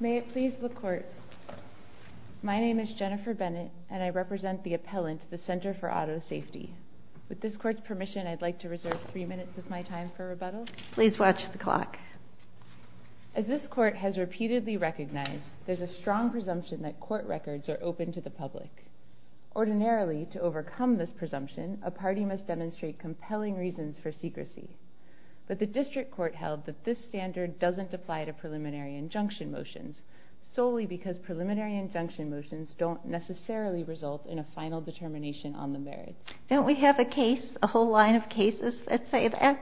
May it please the Court, my name is Jennifer Bennett and I represent the appellant the Center for Auto Safety. With this court's permission I'd like to reserve three minutes of my time for rebuttal. Please watch the clock. As this court has repeatedly recognized there's a strong presumption that court records are open to the public. Ordinarily to overcome this presumption a party must make a final decision on the merits. But the district court held that this standard doesn't apply to preliminary injunction motions solely because preliminary injunction motions don't necessarily result in a final determination on the merits. Don't we have a case, a whole line of cases that say that?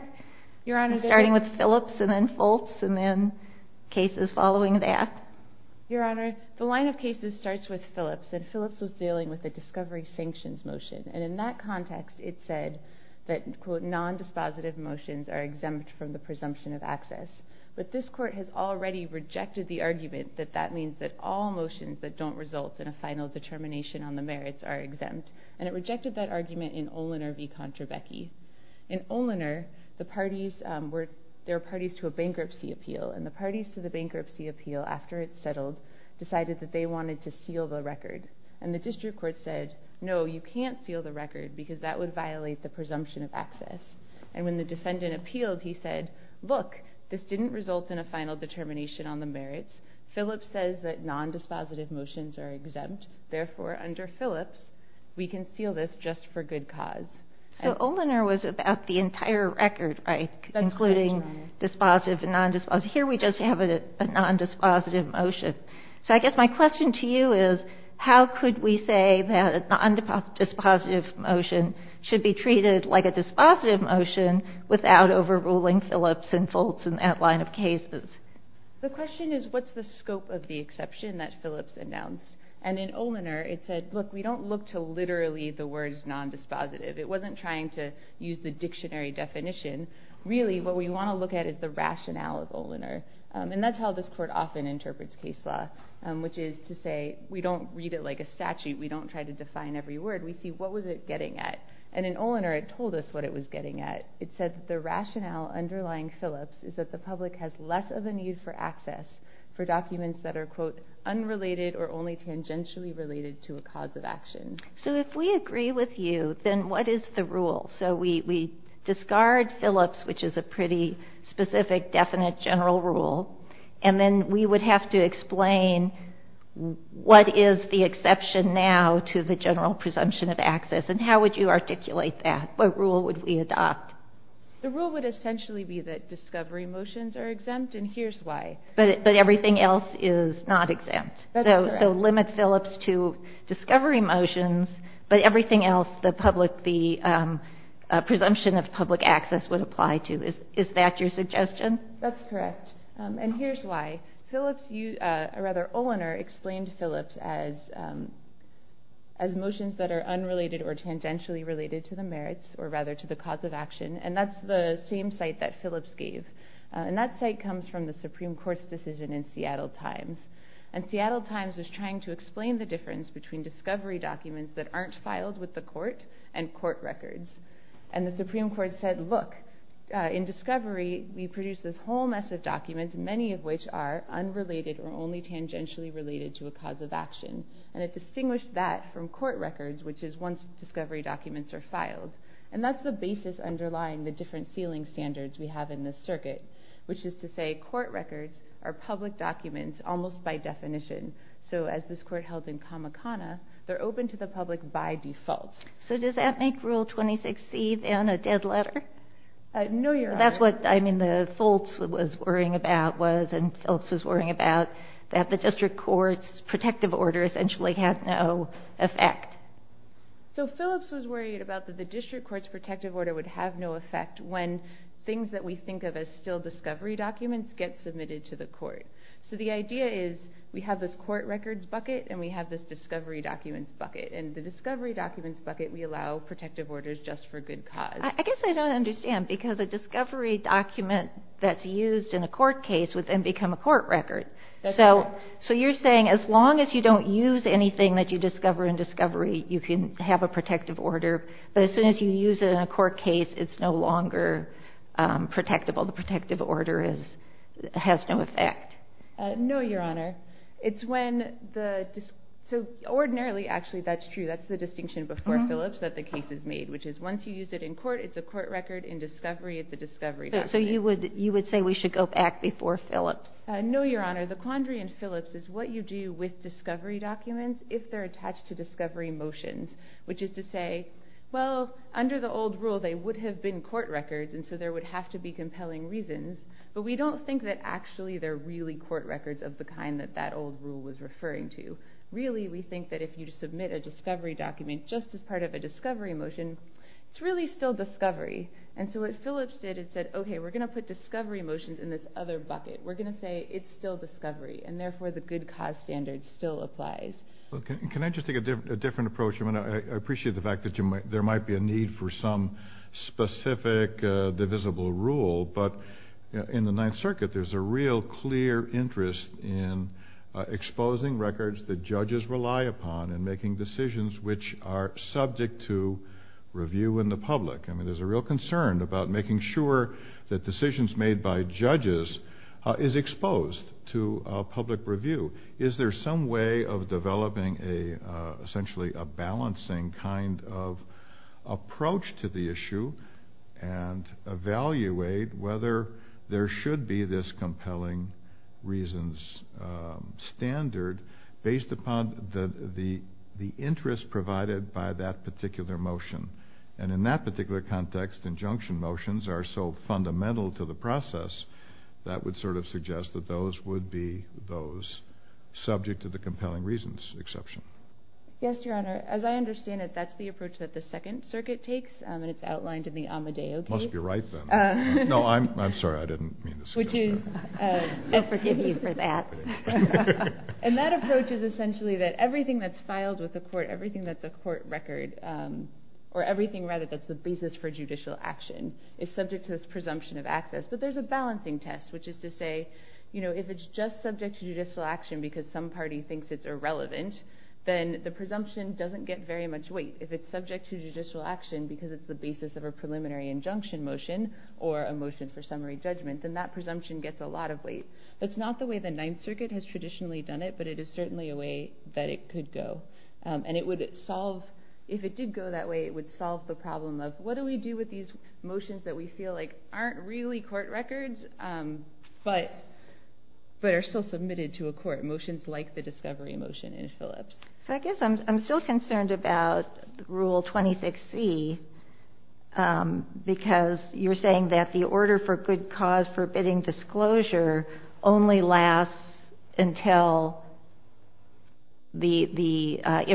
Your Honor. Starting with Phillips and then Foltz and then cases following that? Your Honor, the line of cases starts with Phillips and discovery sanctions motion. And in that context it said that quote non-dispositive motions are exempt from the presumption of access. But this court has already rejected the argument that that means that all motions that don't result in a final determination on the merits are exempt. And it rejected that argument in Olinor v. Contrabecchi. In Olinor the parties were, there were parties to a bankruptcy appeal and the parties to the bankruptcy appeal after it settled decided that they wanted to seal the record. And the district court said no you can't seal the record because that would violate the presumption of access. And when the defendant appealed he said look this didn't result in a final determination on the merits. Phillips says that non-dispositive motions are exempt. Therefore under Phillips we can seal this just for good cause. So Olinor was about the entire record right? Including dispositive and non-dispositive. Here we just have a non-dispositive motion. So I guess my question to you is how could we say that a non-dispositive motion should be treated like a dispositive motion without overruling Phillips and Foltz and that line of cases? The question is what's the scope of the exception that Phillips announced? And in Olinor it said look we don't look to literally the words non-dispositive. It wasn't trying to use the dictionary definition. Really what we want to look at is the rationale of Olinor. And that's how this court often interprets case law. Which is to say we don't read it like a statute. We don't try to define every word. We see what was it getting at. And in Olinor it told us what it was getting at. It said the rationale underlying Phillips is that the public has less of a need for access for documents that are quote unrelated or only tangentially related to a cause of action. So if we agree with you then what is the rule? So we discard Phillips which is a pretty specific definite general rule. And then we would have to explain what is the exception now to the general presumption of access. And how would you articulate that? What rule would we adopt? The rule would essentially be that discovery motions are exempt and here's why. But everything else is not exempt. That's correct. So limit Phillips to discovery motions but everything else the presumption of access. Is that your suggestion? That's correct. And here's why. Olinor explained Phillips as motions that are unrelated or tangentially related to the merits or rather to the cause of action. And that's the same site that Phillips gave. And that site comes from the Supreme Court's decision in Seattle Times. And Seattle Times was trying to explain the difference between discovery documents that aren't filed with the whole mess of documents, many of which are unrelated or only tangentially related to a cause of action. And it distinguished that from court records which is once discovery documents are filed. And that's the basis underlying the different ceiling standards we have in this circuit. Which is to say court records are public documents almost by definition. So as this court held in Kamakana they're open to the public by default. So does that make Rule 26C then a dead letter? No, Your Honor. That's what I mean the Foltz was worrying about was and Phillips was worrying about that the district court's protective order essentially had no effect. So Phillips was worried about that the district court's protective order would have no effect when things that we think of as still discovery documents get submitted to the court. So the idea is we have this court records bucket and we have this discovery documents bucket. And the discovery documents bucket we allow protective orders just for good cause. I guess I don't understand because a discovery document that's used in a court case would then become a court record. So you're saying as long as you don't use anything that you discover in discovery you can have a protective order. But as soon as you use it in a court case it's no longer protectable. The protective order has no effect. No, Your Honor. So ordinarily actually that's true. That's the distinction before Phillips that the case is made which is once you use it in court it's a court record in discovery it's a discovery document. So you would say we should go back before Phillips? No, Your Honor. The quandary in Phillips is what you do with discovery documents if they're attached to discovery motions. Which is to say well under the old rule they would have been court records and so there would have to be compelling reasons. But we don't think that actually they're really court records of the kind that that old rule was referring to. Really we think that if you submit a case just as part of a discovery motion it's really still discovery. And so what Phillips did is said okay we're going to put discovery motions in this other bucket. We're going to say it's still discovery and therefore the good cause standard still applies. Can I just take a different approach? I appreciate the fact that there might be a need for some specific divisible rule but in the Ninth Circuit there's a real clear interest in exposing records that judges rely upon and making decisions which are subject to review in the public. I mean there's a real concern about making sure that decisions made by judges is exposed to public review. Is there some way of developing essentially a balancing kind of approach to the issue and evaluate whether there should be this compelling reasons standard based upon the interest provided by that particular motion? And in that particular context injunction motions are so fundamental to the process that would sort of suggest that those would be those subject to the compelling reasons exception. Yes, Your Honor. As I understand it, that's the approach that the Second Circuit takes and it's outlined in the Amadeo case. Must be right then. No, I'm sorry. I didn't mean to suggest that. Which is, I forgive you for that. And that approach is essentially that everything that's filed with the court, everything that's a court record, or everything rather that's the basis for judicial action, is subject to this presumption of access. But there's a balancing test which is to say, you know, if it's just subject to judicial action because some party thinks it's irrelevant, then the presumption doesn't get very much weight. If it's subject to judicial action because it's the basis of a preliminary injunction motion or a motion for summary judgment, then that Circuit has traditionally done it, but it is certainly a way that it could go. And it would solve, if it did go that way, it would solve the problem of what do we do with these motions that we feel like aren't really court records but are still submitted to a court, motions like the discovery motion in Phillips. So I guess I'm still concerned about Rule 26C because you're saying that the information is used until the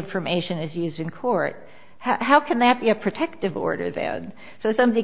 information is used in court. How can that be a protective order then? So somebody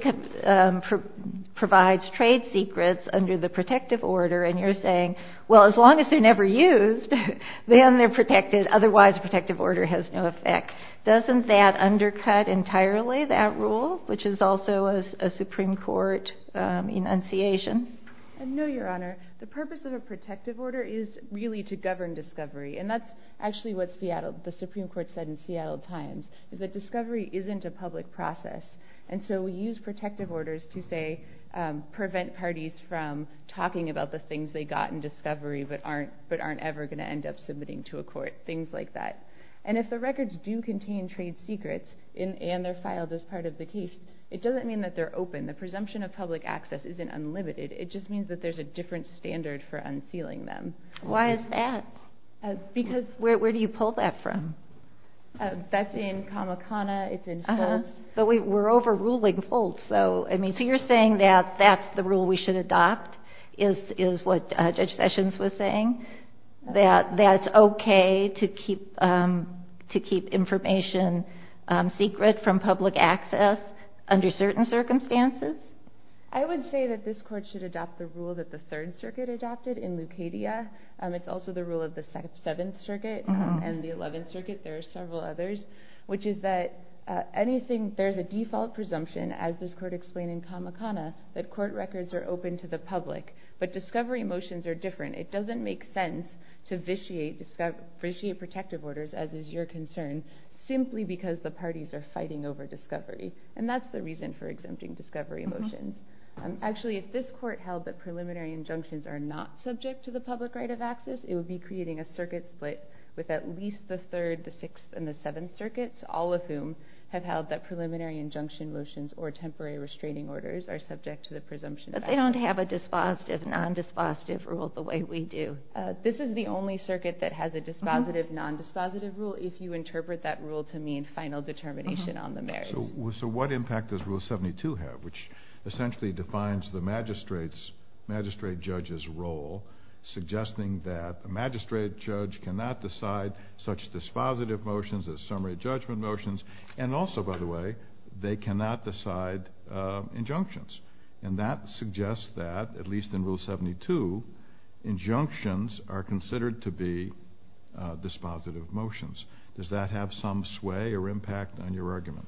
provides trade secrets under the protective order and you're saying, well, as long as they're never used, then they're protected, otherwise protective order has no effect. Doesn't that undercut entirely, that rule, which is also a Supreme Court enunciation? No, Your Honor. The purpose of a protective order is really to govern discovery. And that's actually what the Supreme Court said in Seattle Times, is that discovery isn't a public process. And so we use protective orders to, say, prevent parties from talking about the things they got in discovery but aren't ever going to end up submitting to a court, things like that. And if the records do contain trade secrets and they're filed as part of the case, it doesn't mean that they're open. The presumption of public access isn't unlimited. It just means that there's a different standard for unsealing them. Why is that? Because... Where do you pull that from? That's in Kamakana. It's in Phillips. But we're overruling Phillips. So, I mean, so you're saying that that's the rule we should adopt, is what Judge Sessions was saying, that that's okay to keep information secret from public access under certain circumstances? I would say that this Court should adopt the rule that the Third Circuit adopted in Lucadia. It's also the rule of the Seventh Circuit and the Eleventh Circuit. There are several others, which is that there's a default presumption, as this Court explained in Kamakana, that court records are open to the public. But discovery motions are different. It doesn't make sense to vitiate protective orders, as is your concern, simply because the parties are fighting over discovery. And that's the reason for exempting discovery motions. Actually, if this Court held that preliminary injunctions are not subject to the public right of access, it would be creating a circuit split with at least the Third, the Sixth, and the Seventh Circuits, all of whom have held that preliminary injunction motions or temporary restraining orders are subject to the presumption of access. But they don't have a dispositive, non-dispositive rule the way we do. This is the only circuit that has a dispositive, non-dispositive rule, if you interpret that rule to mean final determination on the marriage. So what impact does Rule 72 have, which essentially defines the magistrate judge's role, suggesting that a magistrate judge cannot decide such dispositive motions as summary judgment motions, and also, by the way, they cannot decide injunctions. And that suggests that, at least in Rule 72, injunctions are considered to be dispositive motions. Does that have some sway or impact on your argument?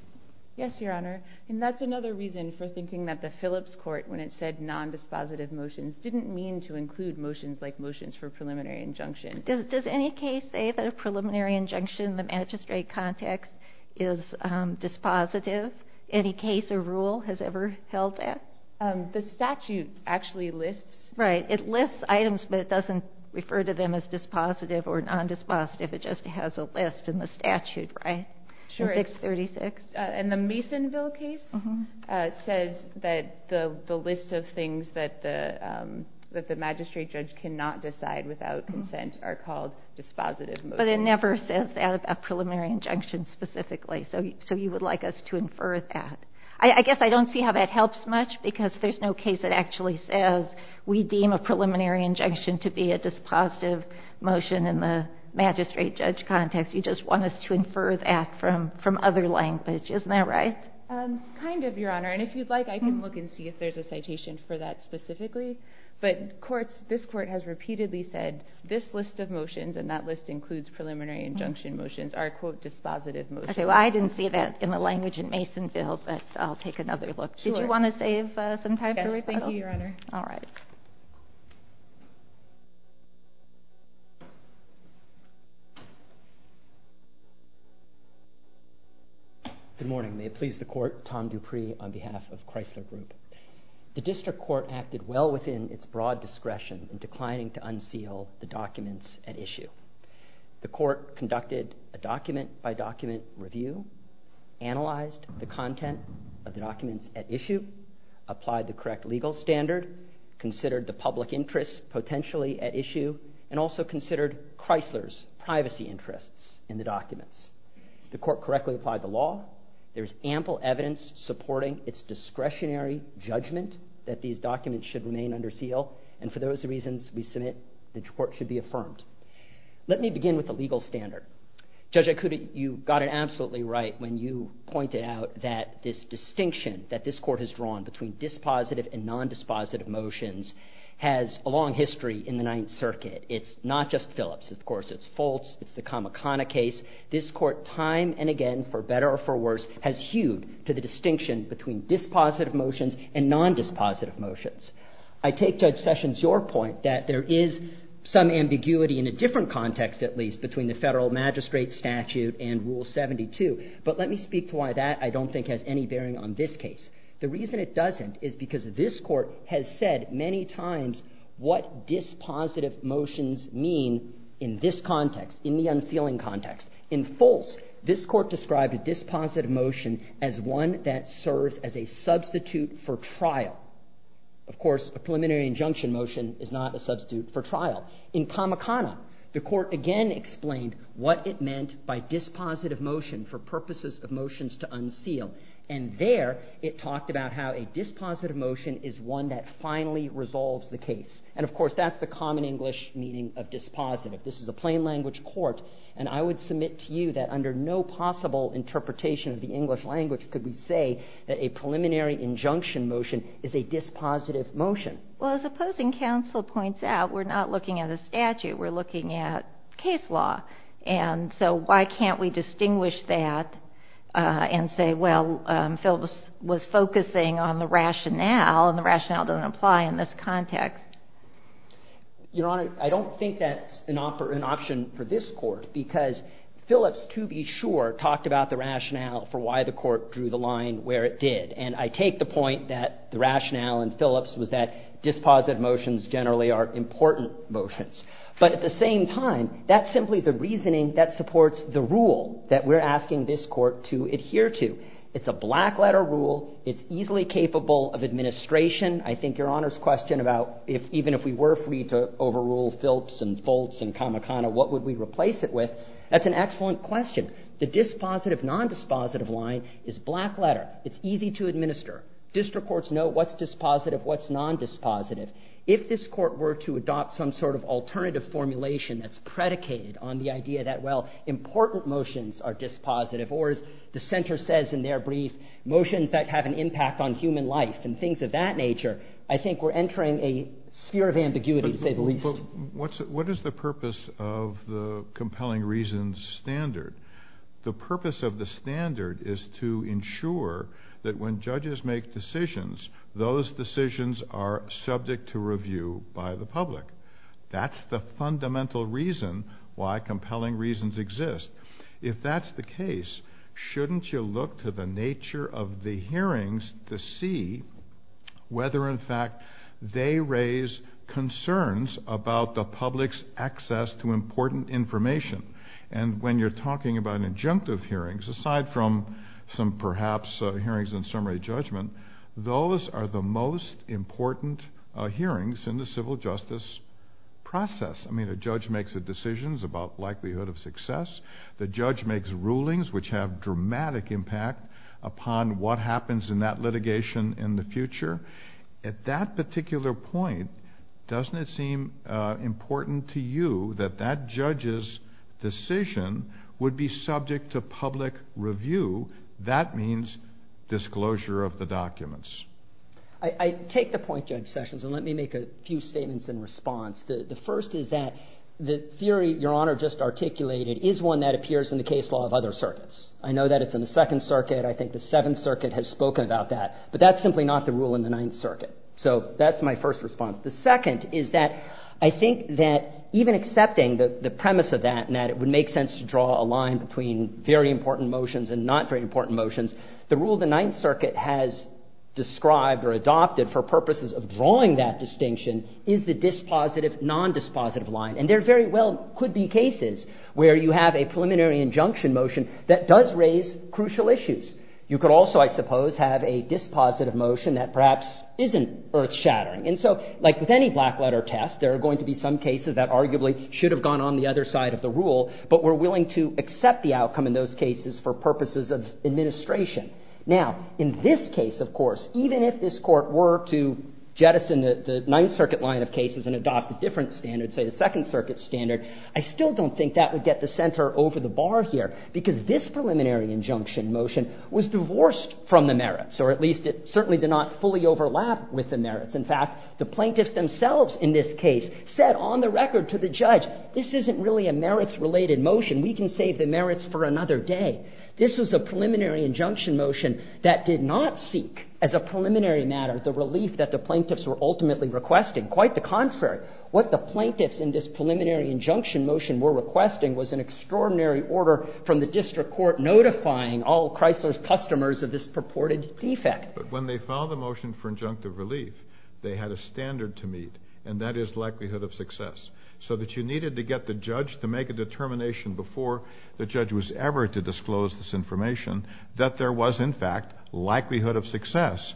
Yes, Your Honor. And that's another reason for thinking that the Phillips Court, when it said non-dispositive motions, didn't mean to include motions like motions for preliminary injunction. Does any case say that a preliminary injunction in the magistrate context is dispositive? Any case or rule has ever held that? The statute actually lists. Right. It lists items, but it doesn't refer to them as dispositive or non-dispositive. It just has a list in the statute, right? Sure. In 636? In the Masonville case, it says that the list of things that the magistrate judge cannot decide without consent are called dispositive motions. But it never says that a preliminary injunction specifically. So you would like us to infer that. I guess I don't see how that helps much, because there's no case that actually says we deem a preliminary injunction to be a dispositive motion in the magistrate judge context. You just want us to infer that from other language. Isn't that right? Kind of, Your Honor. And if you'd like, I can look and see if there's a citation for that specifically. But courts, this Court has repeatedly said this list of preliminary injunction motions are, quote, dispositive motions. Okay. Well, I didn't see that in the language in Masonville, but I'll take another look. Did you want to save some time for me? Yes. Thank you, Your Honor. All right. Good morning. May it please the Court, Tom Dupree on behalf of Chrysler Group. The Court conducted a document-by-document review, analyzed the content of the documents at issue, applied the correct legal standard, considered the public interests potentially at issue, and also considered Chrysler's privacy interests in the documents. The Court correctly applied the law. There's ample evidence supporting its discretionary judgment that these documents should remain under seal. And for those reasons, we submit the Court should be affirmed. Let me begin with the legal standard. Judge Ikuda, you got it absolutely right when you pointed out that this distinction that this Court has drawn between dispositive and nondispositive motions has a long history in the Ninth Circuit. It's not just Phillips. Of course, it's Foltz. It's the Kamikana case. This Court time and again, for better or for worse, has hewed to the distinction between dispositive motions and nondispositive motions. I take, Judge Sessions, your point that there is some ambiguity in a different context, at least, between the Federal Magistrate Statute and Rule 72. But let me speak to why that, I don't think, has any bearing on this case. The reason it doesn't is because this Court has said many times what dispositive motions mean in this context, in the unsealing context. In Foltz, this Court described a dispositive motion as one that serves as a substitute for trial. Of course, a preliminary injunction motion is not a substitute for trial. In Kamikana, the Court again explained what it meant by dispositive motion for purposes of motions to unseal. And there, it talked about how a dispositive motion is one that finally resolves the case. And of course, that's the common English meaning of dispositive. This is a plain language Court, and I would submit to you that under no possible interpretation of the Court, a preliminary injunction motion is a dispositive motion. Well, as opposing counsel points out, we're not looking at a statute. We're looking at case law. And so why can't we distinguish that and say, well, Phil was focusing on the rationale, and the rationale doesn't apply in this context? Your Honor, I don't think that's an option for this Court, because Phillips, to be sure, talked about the rationale for why the Court drew the line where it did. And I take the point that the rationale in Phillips was that dispositive motions generally are important motions. But at the same time, that's simply the reasoning that supports the rule that we're asking this Court to adhere to. It's a black-letter rule. It's easily capable of administration. I think Your Honor's question about even if we were free to overrule Phillips and Foltz and Kamikana, what would we replace it with, that's an excellent question. The dispositive, nondispositive line is black-letter. It's easy to administer. District courts know what's dispositive, what's nondispositive. If this Court were to adopt some sort of alternative formulation that's predicated on the idea that, well, important motions are dispositive, or as the Center says in their brief, motions that have an impact on human life and things of that nature, I think we're entering a sphere of ambiguity, to say the least. What is the purpose of the compelling reasons standard? The purpose of the standard is to ensure that when judges make decisions, those decisions are subject to review by the public. That's the fundamental reason why compelling reasons exist. If that's the case, shouldn't you look to the nature of the hearings to see whether in fact they raise concerns about the public's access to important information? And when you're talking about injunctive hearings, aside from some perhaps hearings in summary judgment, those are the most important hearings in the civil justice process. I mean, a judge makes decisions about likelihood of success. The judge makes rulings which have dramatic impact upon what happens in that litigation in the future. At that particular point, doesn't it seem important to you that that judge's decision would be subject to public review? That means disclosure of the documents. I take the point, Judge Sessions, and let me make a few statements in response. The first is that the theory Your Honor just articulated is one that appears in the case law of other circuits. I know that it's in the Second Circuit. I think the Seventh Circuit has spoken about that. But that's simply not the rule in the Ninth Circuit. So that's my first response. The second is that I think that even accepting the premise of that and that it would make sense to draw a line between very important motions and not very important motions, the rule the Ninth Circuit has described or adopted for purposes of drawing that distinction is the dispositive-nondispositive line. And there very well could be cases where you have a preliminary injunction motion that does raise crucial issues. You could also, I suppose, have a dispositive motion that perhaps isn't earth-shattering. And so, like with any black-letter test, there are going to be some cases that arguably should have gone on the other side of the rule, but were willing to accept the outcome in those cases for purposes of administration. Now, in this case, of course, even if this Court were to jettison the Ninth Circuit line of cases and adopt a different standard, say the Second Circuit standard, I still don't think that would get the center over the bar here because this preliminary injunction motion was divorced from the merits, or at least it certainly did not fully overlap with the merits. In fact, the plaintiffs themselves in this case said on the record to the judge, this isn't really a merits-related motion. We can save the merits for another day. This was a preliminary injunction motion that did not seek as a preliminary matter the relief that the plaintiffs were ultimately requesting. Quite the contrary. What the plaintiffs in this preliminary injunction motion were requesting was an extraordinary order from the district court notifying all Chrysler's customers of this purported defect. But when they filed the motion for injunctive relief, they had a standard to meet, and that is likelihood of success, so that you needed to get the judge to make a determination before the judge was ever to disclose this information that there was, in fact, likelihood of success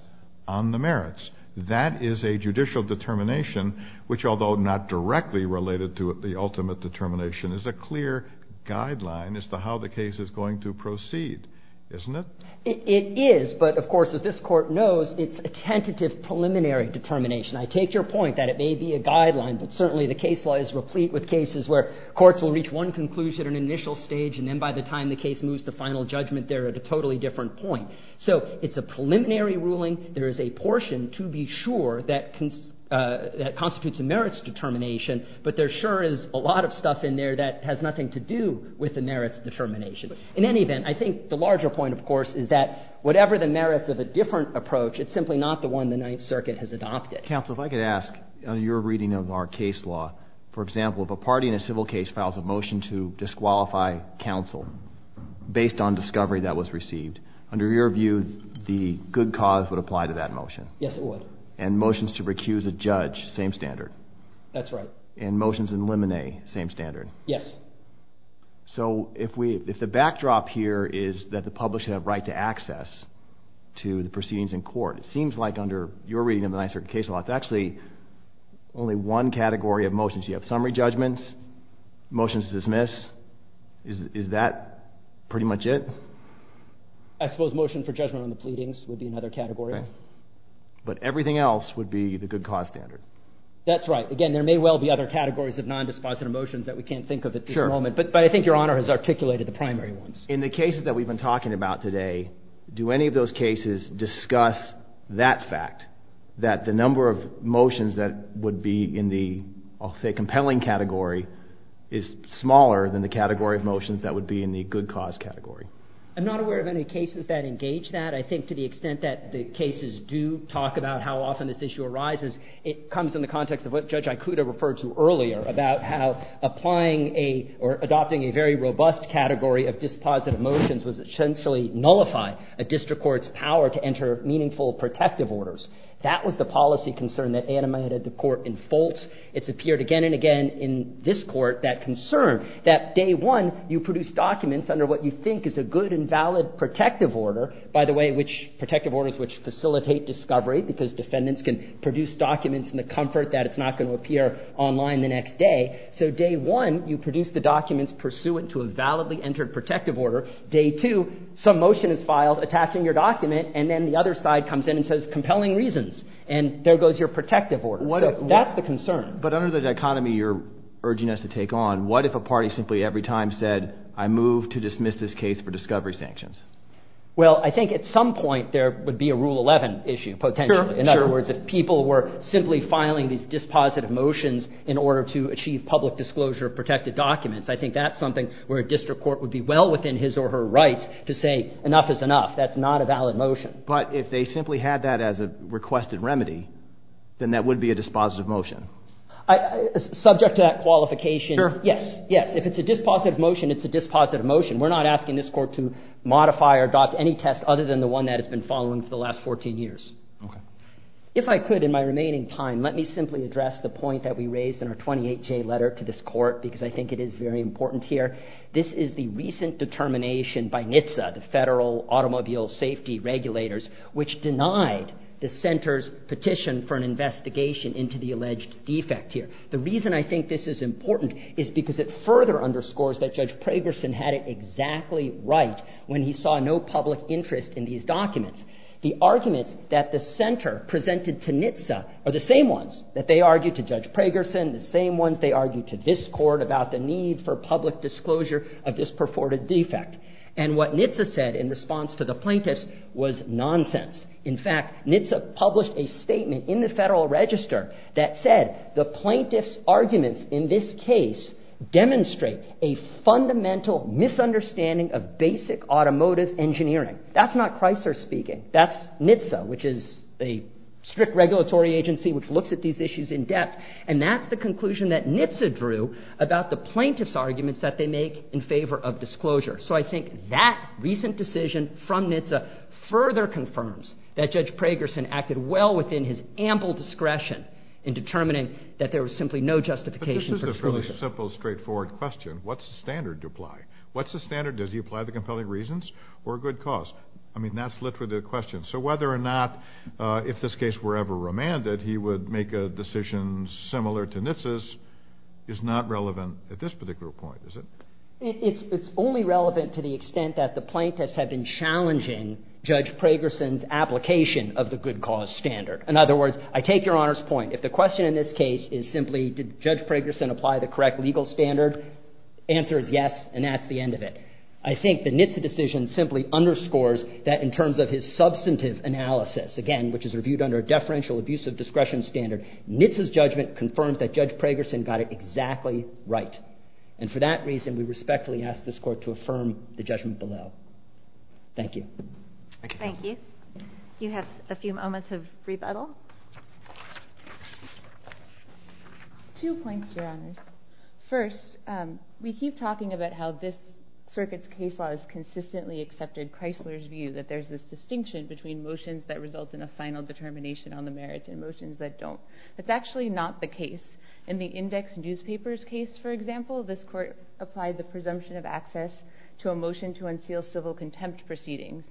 on the merits. That is a judicial determination which, although not directly related to the ultimate determination, is a clear guideline as to how the case is going to proceed, isn't it? It is. But, of course, as this Court knows, it's a tentative preliminary determination. I take your point that it may be a guideline, but certainly the case law is replete with cases where courts will reach one conclusion at an initial stage, and then by the time the case moves to final judgment, they're at a totally different point. So it's a preliminary ruling. There is a portion, to be sure, that constitutes a merits determination, but there sure is a lot of stuff in there that has nothing to do with the merits determination. In any event, I think the larger point, of course, is that whatever the merits of a different approach, it's simply not the one the Ninth Circuit has adopted. Counsel, if I could ask, in your reading of our case law, for example, if a party in a civil case files a motion to disqualify counsel based on discovery that was received, under your view, the good cause would apply to that motion? Yes, it would. And motions to recuse a judge, same standard? That's right. And motions in limine, same standard? Yes. So, if the backdrop here is that the public should have right to access to the proceedings in court, it seems like under your reading of the Ninth Circuit case law, it's actually only one category of motions. You have summary judgments, motions to dismiss. Is that pretty much it? I suppose motion for judgment on the pleadings would be another category. Right. But everything else would be the good cause standard. That's right. Again, there may well be other categories of non-dispositive motions that we can't think of at this moment. Sure. But I think Your Honor has articulated the primary ones. In the cases that we've been talking about today, do any of those cases discuss that fact, that the number of motions that would be in the, I'll say, compelling category is smaller than the category of motions that would be in the good cause category? I'm not aware of any cases that engage that. I think to the extent that the cases do talk about how often this very robust category of dispositive motions would essentially nullify a district court's power to enter meaningful protective orders, that was the policy concern that animated the court in Fultz. It's appeared again and again in this court, that concern that day one, you produce documents under what you think is a good and valid protective order, by the way, which, protective orders which facilitate discovery, because defendants can produce documents in the comfort that it's not going to appear online the next day. So day one, you produce the documents pursuant to a validly entered protective order. Day two, some motion is filed attaching your document, and then the other side comes in and says compelling reasons, and there goes your protective order. So that's the concern. But under the dichotomy you're urging us to take on, what if a party simply every time said, I move to dismiss this case for discovery sanctions? Well, I think at some point there would be a Rule 11 issue, potentially. Sure, sure. In other words, if people were simply filing these dispositive motions in order to achieve public disclosure of protected documents, I think that's something where a district court would be well within his or her rights to say enough is enough. That's not a valid motion. But if they simply had that as a requested remedy, then that would be a dispositive motion. Subject to that qualification. Sure. Yes. Yes. If it's a dispositive motion, it's a dispositive motion. We're not asking this Court to modify or adopt any test other than the one that it's been following for the last 14 years. Okay. If I could, in my remaining time, let me simply address the point that we raised in our 28-J letter to this Court, because I think it is very important here. This is the recent determination by NHTSA, the Federal Automobile Safety Regulators, which denied the Center's petition for an investigation into the alleged defect here. The reason I think this is important is because it further underscores that Judge Pragerson had it exactly right when he saw no public interest in these documents. The arguments that the Center presented to NHTSA are the same ones that they argue to Judge Pragerson, the same ones they argue to this Court about the need for public disclosure of this purported defect. And what NHTSA said in response to the plaintiffs was nonsense. In fact, NHTSA published a statement in the Federal Register that said the plaintiffs' arguments in this case demonstrate a fundamental misunderstanding of basic automotive engineering. That's not Chrysler speaking. That's NHTSA, which is a strict regulatory agency which looks at these issues in depth, and that's the conclusion that NHTSA drew about the plaintiffs' arguments that they make in favor of disclosure. So I think that recent decision from NHTSA further confirms that Judge Pragerson acted well within his ample discretion in determining that there was simply no justification for disclosure. But this is a fairly simple, straightforward question. What's the standard to apply? What's the standard? Does he apply the compelling reasons or good cause? I mean, that's literally the question. So whether or not, if this case were ever remanded, he would make a decision similar to NHTSA's is not relevant at this particular point, is it? It's only relevant to the extent that the plaintiffs have been challenging Judge Pragerson's application of the good cause standard. In other words, I take Your Honor's point. If the question in this case is simply did Judge Pragerson apply the correct legal standard, the answer is yes, and that's the end of it. I think the NHTSA decision simply underscores that in terms of his substantive analysis, again, which is reviewed under a deferential abusive discretion standard, NHTSA's judgment confirms that Judge Pragerson got it exactly right. And for that reason, we respectfully ask this Court to affirm the judgment below. Thank you. Thank you. Two points, Your Honors. First, we keep talking about how this circuit's case law has consistently accepted Chrysler's view that there's this distinction between motions that result in a final determination on the merits and motions that don't. That's actually not the case. In the index newspaper's case, for example, this Court applied the presumption of access to a motion to unseal civil contempt proceedings.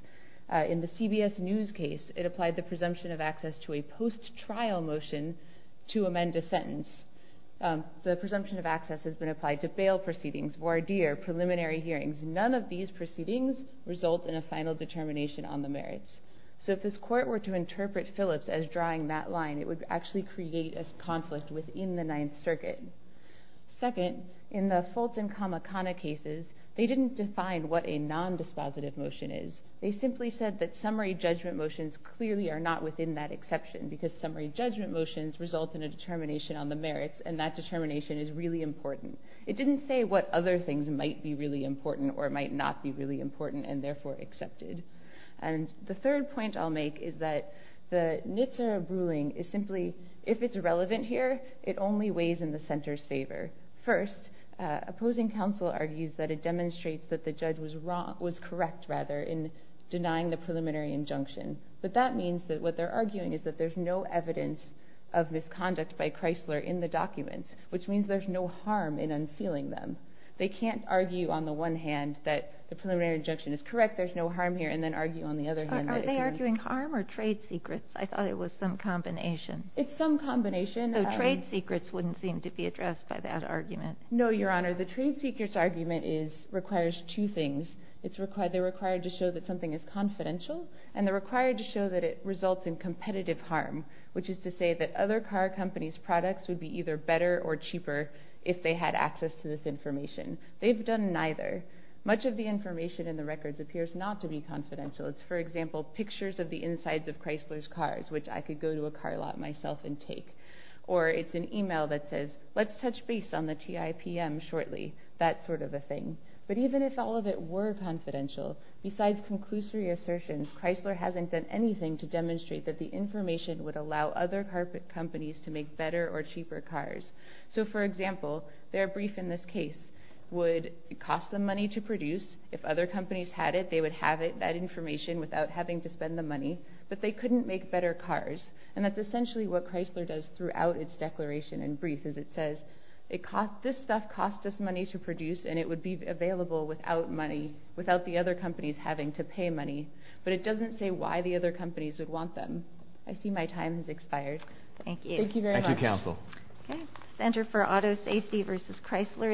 In the CBS News case, it applied the presumption of access to a post-trial motion to amend a sentence. The presumption of access has been applied to bail proceedings, voir dire, preliminary hearings. None of these proceedings result in a final determination on the merits. So if this Court were to interpret Phillips as drawing that line, it would actually create a conflict within the Ninth Circuit. Second, in the Fulton-Kamakana cases, they didn't define what a non-dispositive motion is. They simply said that summary judgment motions clearly are not within that determination is really important. It didn't say what other things might be really important or might not be really important and, therefore, accepted. And the third point I'll make is that the Nitzer ruling is simply, if it's relevant here, it only weighs in the center's favor. First, opposing counsel argues that it demonstrates that the judge was correct in denying the preliminary injunction. But that means that what they're arguing is that there's no evidence of documents, which means there's no harm in unsealing them. They can't argue, on the one hand, that the preliminary injunction is correct, there's no harm here, and then argue, on the other hand, that it can't. Are they arguing harm or trade secrets? I thought it was some combination. It's some combination. So trade secrets wouldn't seem to be addressed by that argument. No, Your Honor. The trade secrets argument requires two things. They're required to show that something is confidential, and they're required to show that it results in competitive harm, which is to say that other car companies' products would be either better or cheaper if they had access to this information. They've done neither. Much of the information in the records appears not to be confidential. It's, for example, pictures of the insides of Chrysler's cars, which I could go to a car lot myself and take. Or it's an email that says, let's touch base on the TIPM shortly, that sort of a thing. But even if all of it were confidential, besides conclusory assertions, Chrysler hasn't done anything to demonstrate that the information would allow other car companies to make better or cheaper cars. So, for example, their brief in this case would cost them money to produce. If other companies had it, they would have that information without having to spend the money. But they couldn't make better cars. And that's essentially what Chrysler does throughout its declaration and brief, is it says, this stuff costs us money to produce, and it would be available without the other companies having to pay money. But it doesn't say why the other companies would want them. I see my time has expired. Thank you. Thank you very much. Thank you, Counsel. Okay.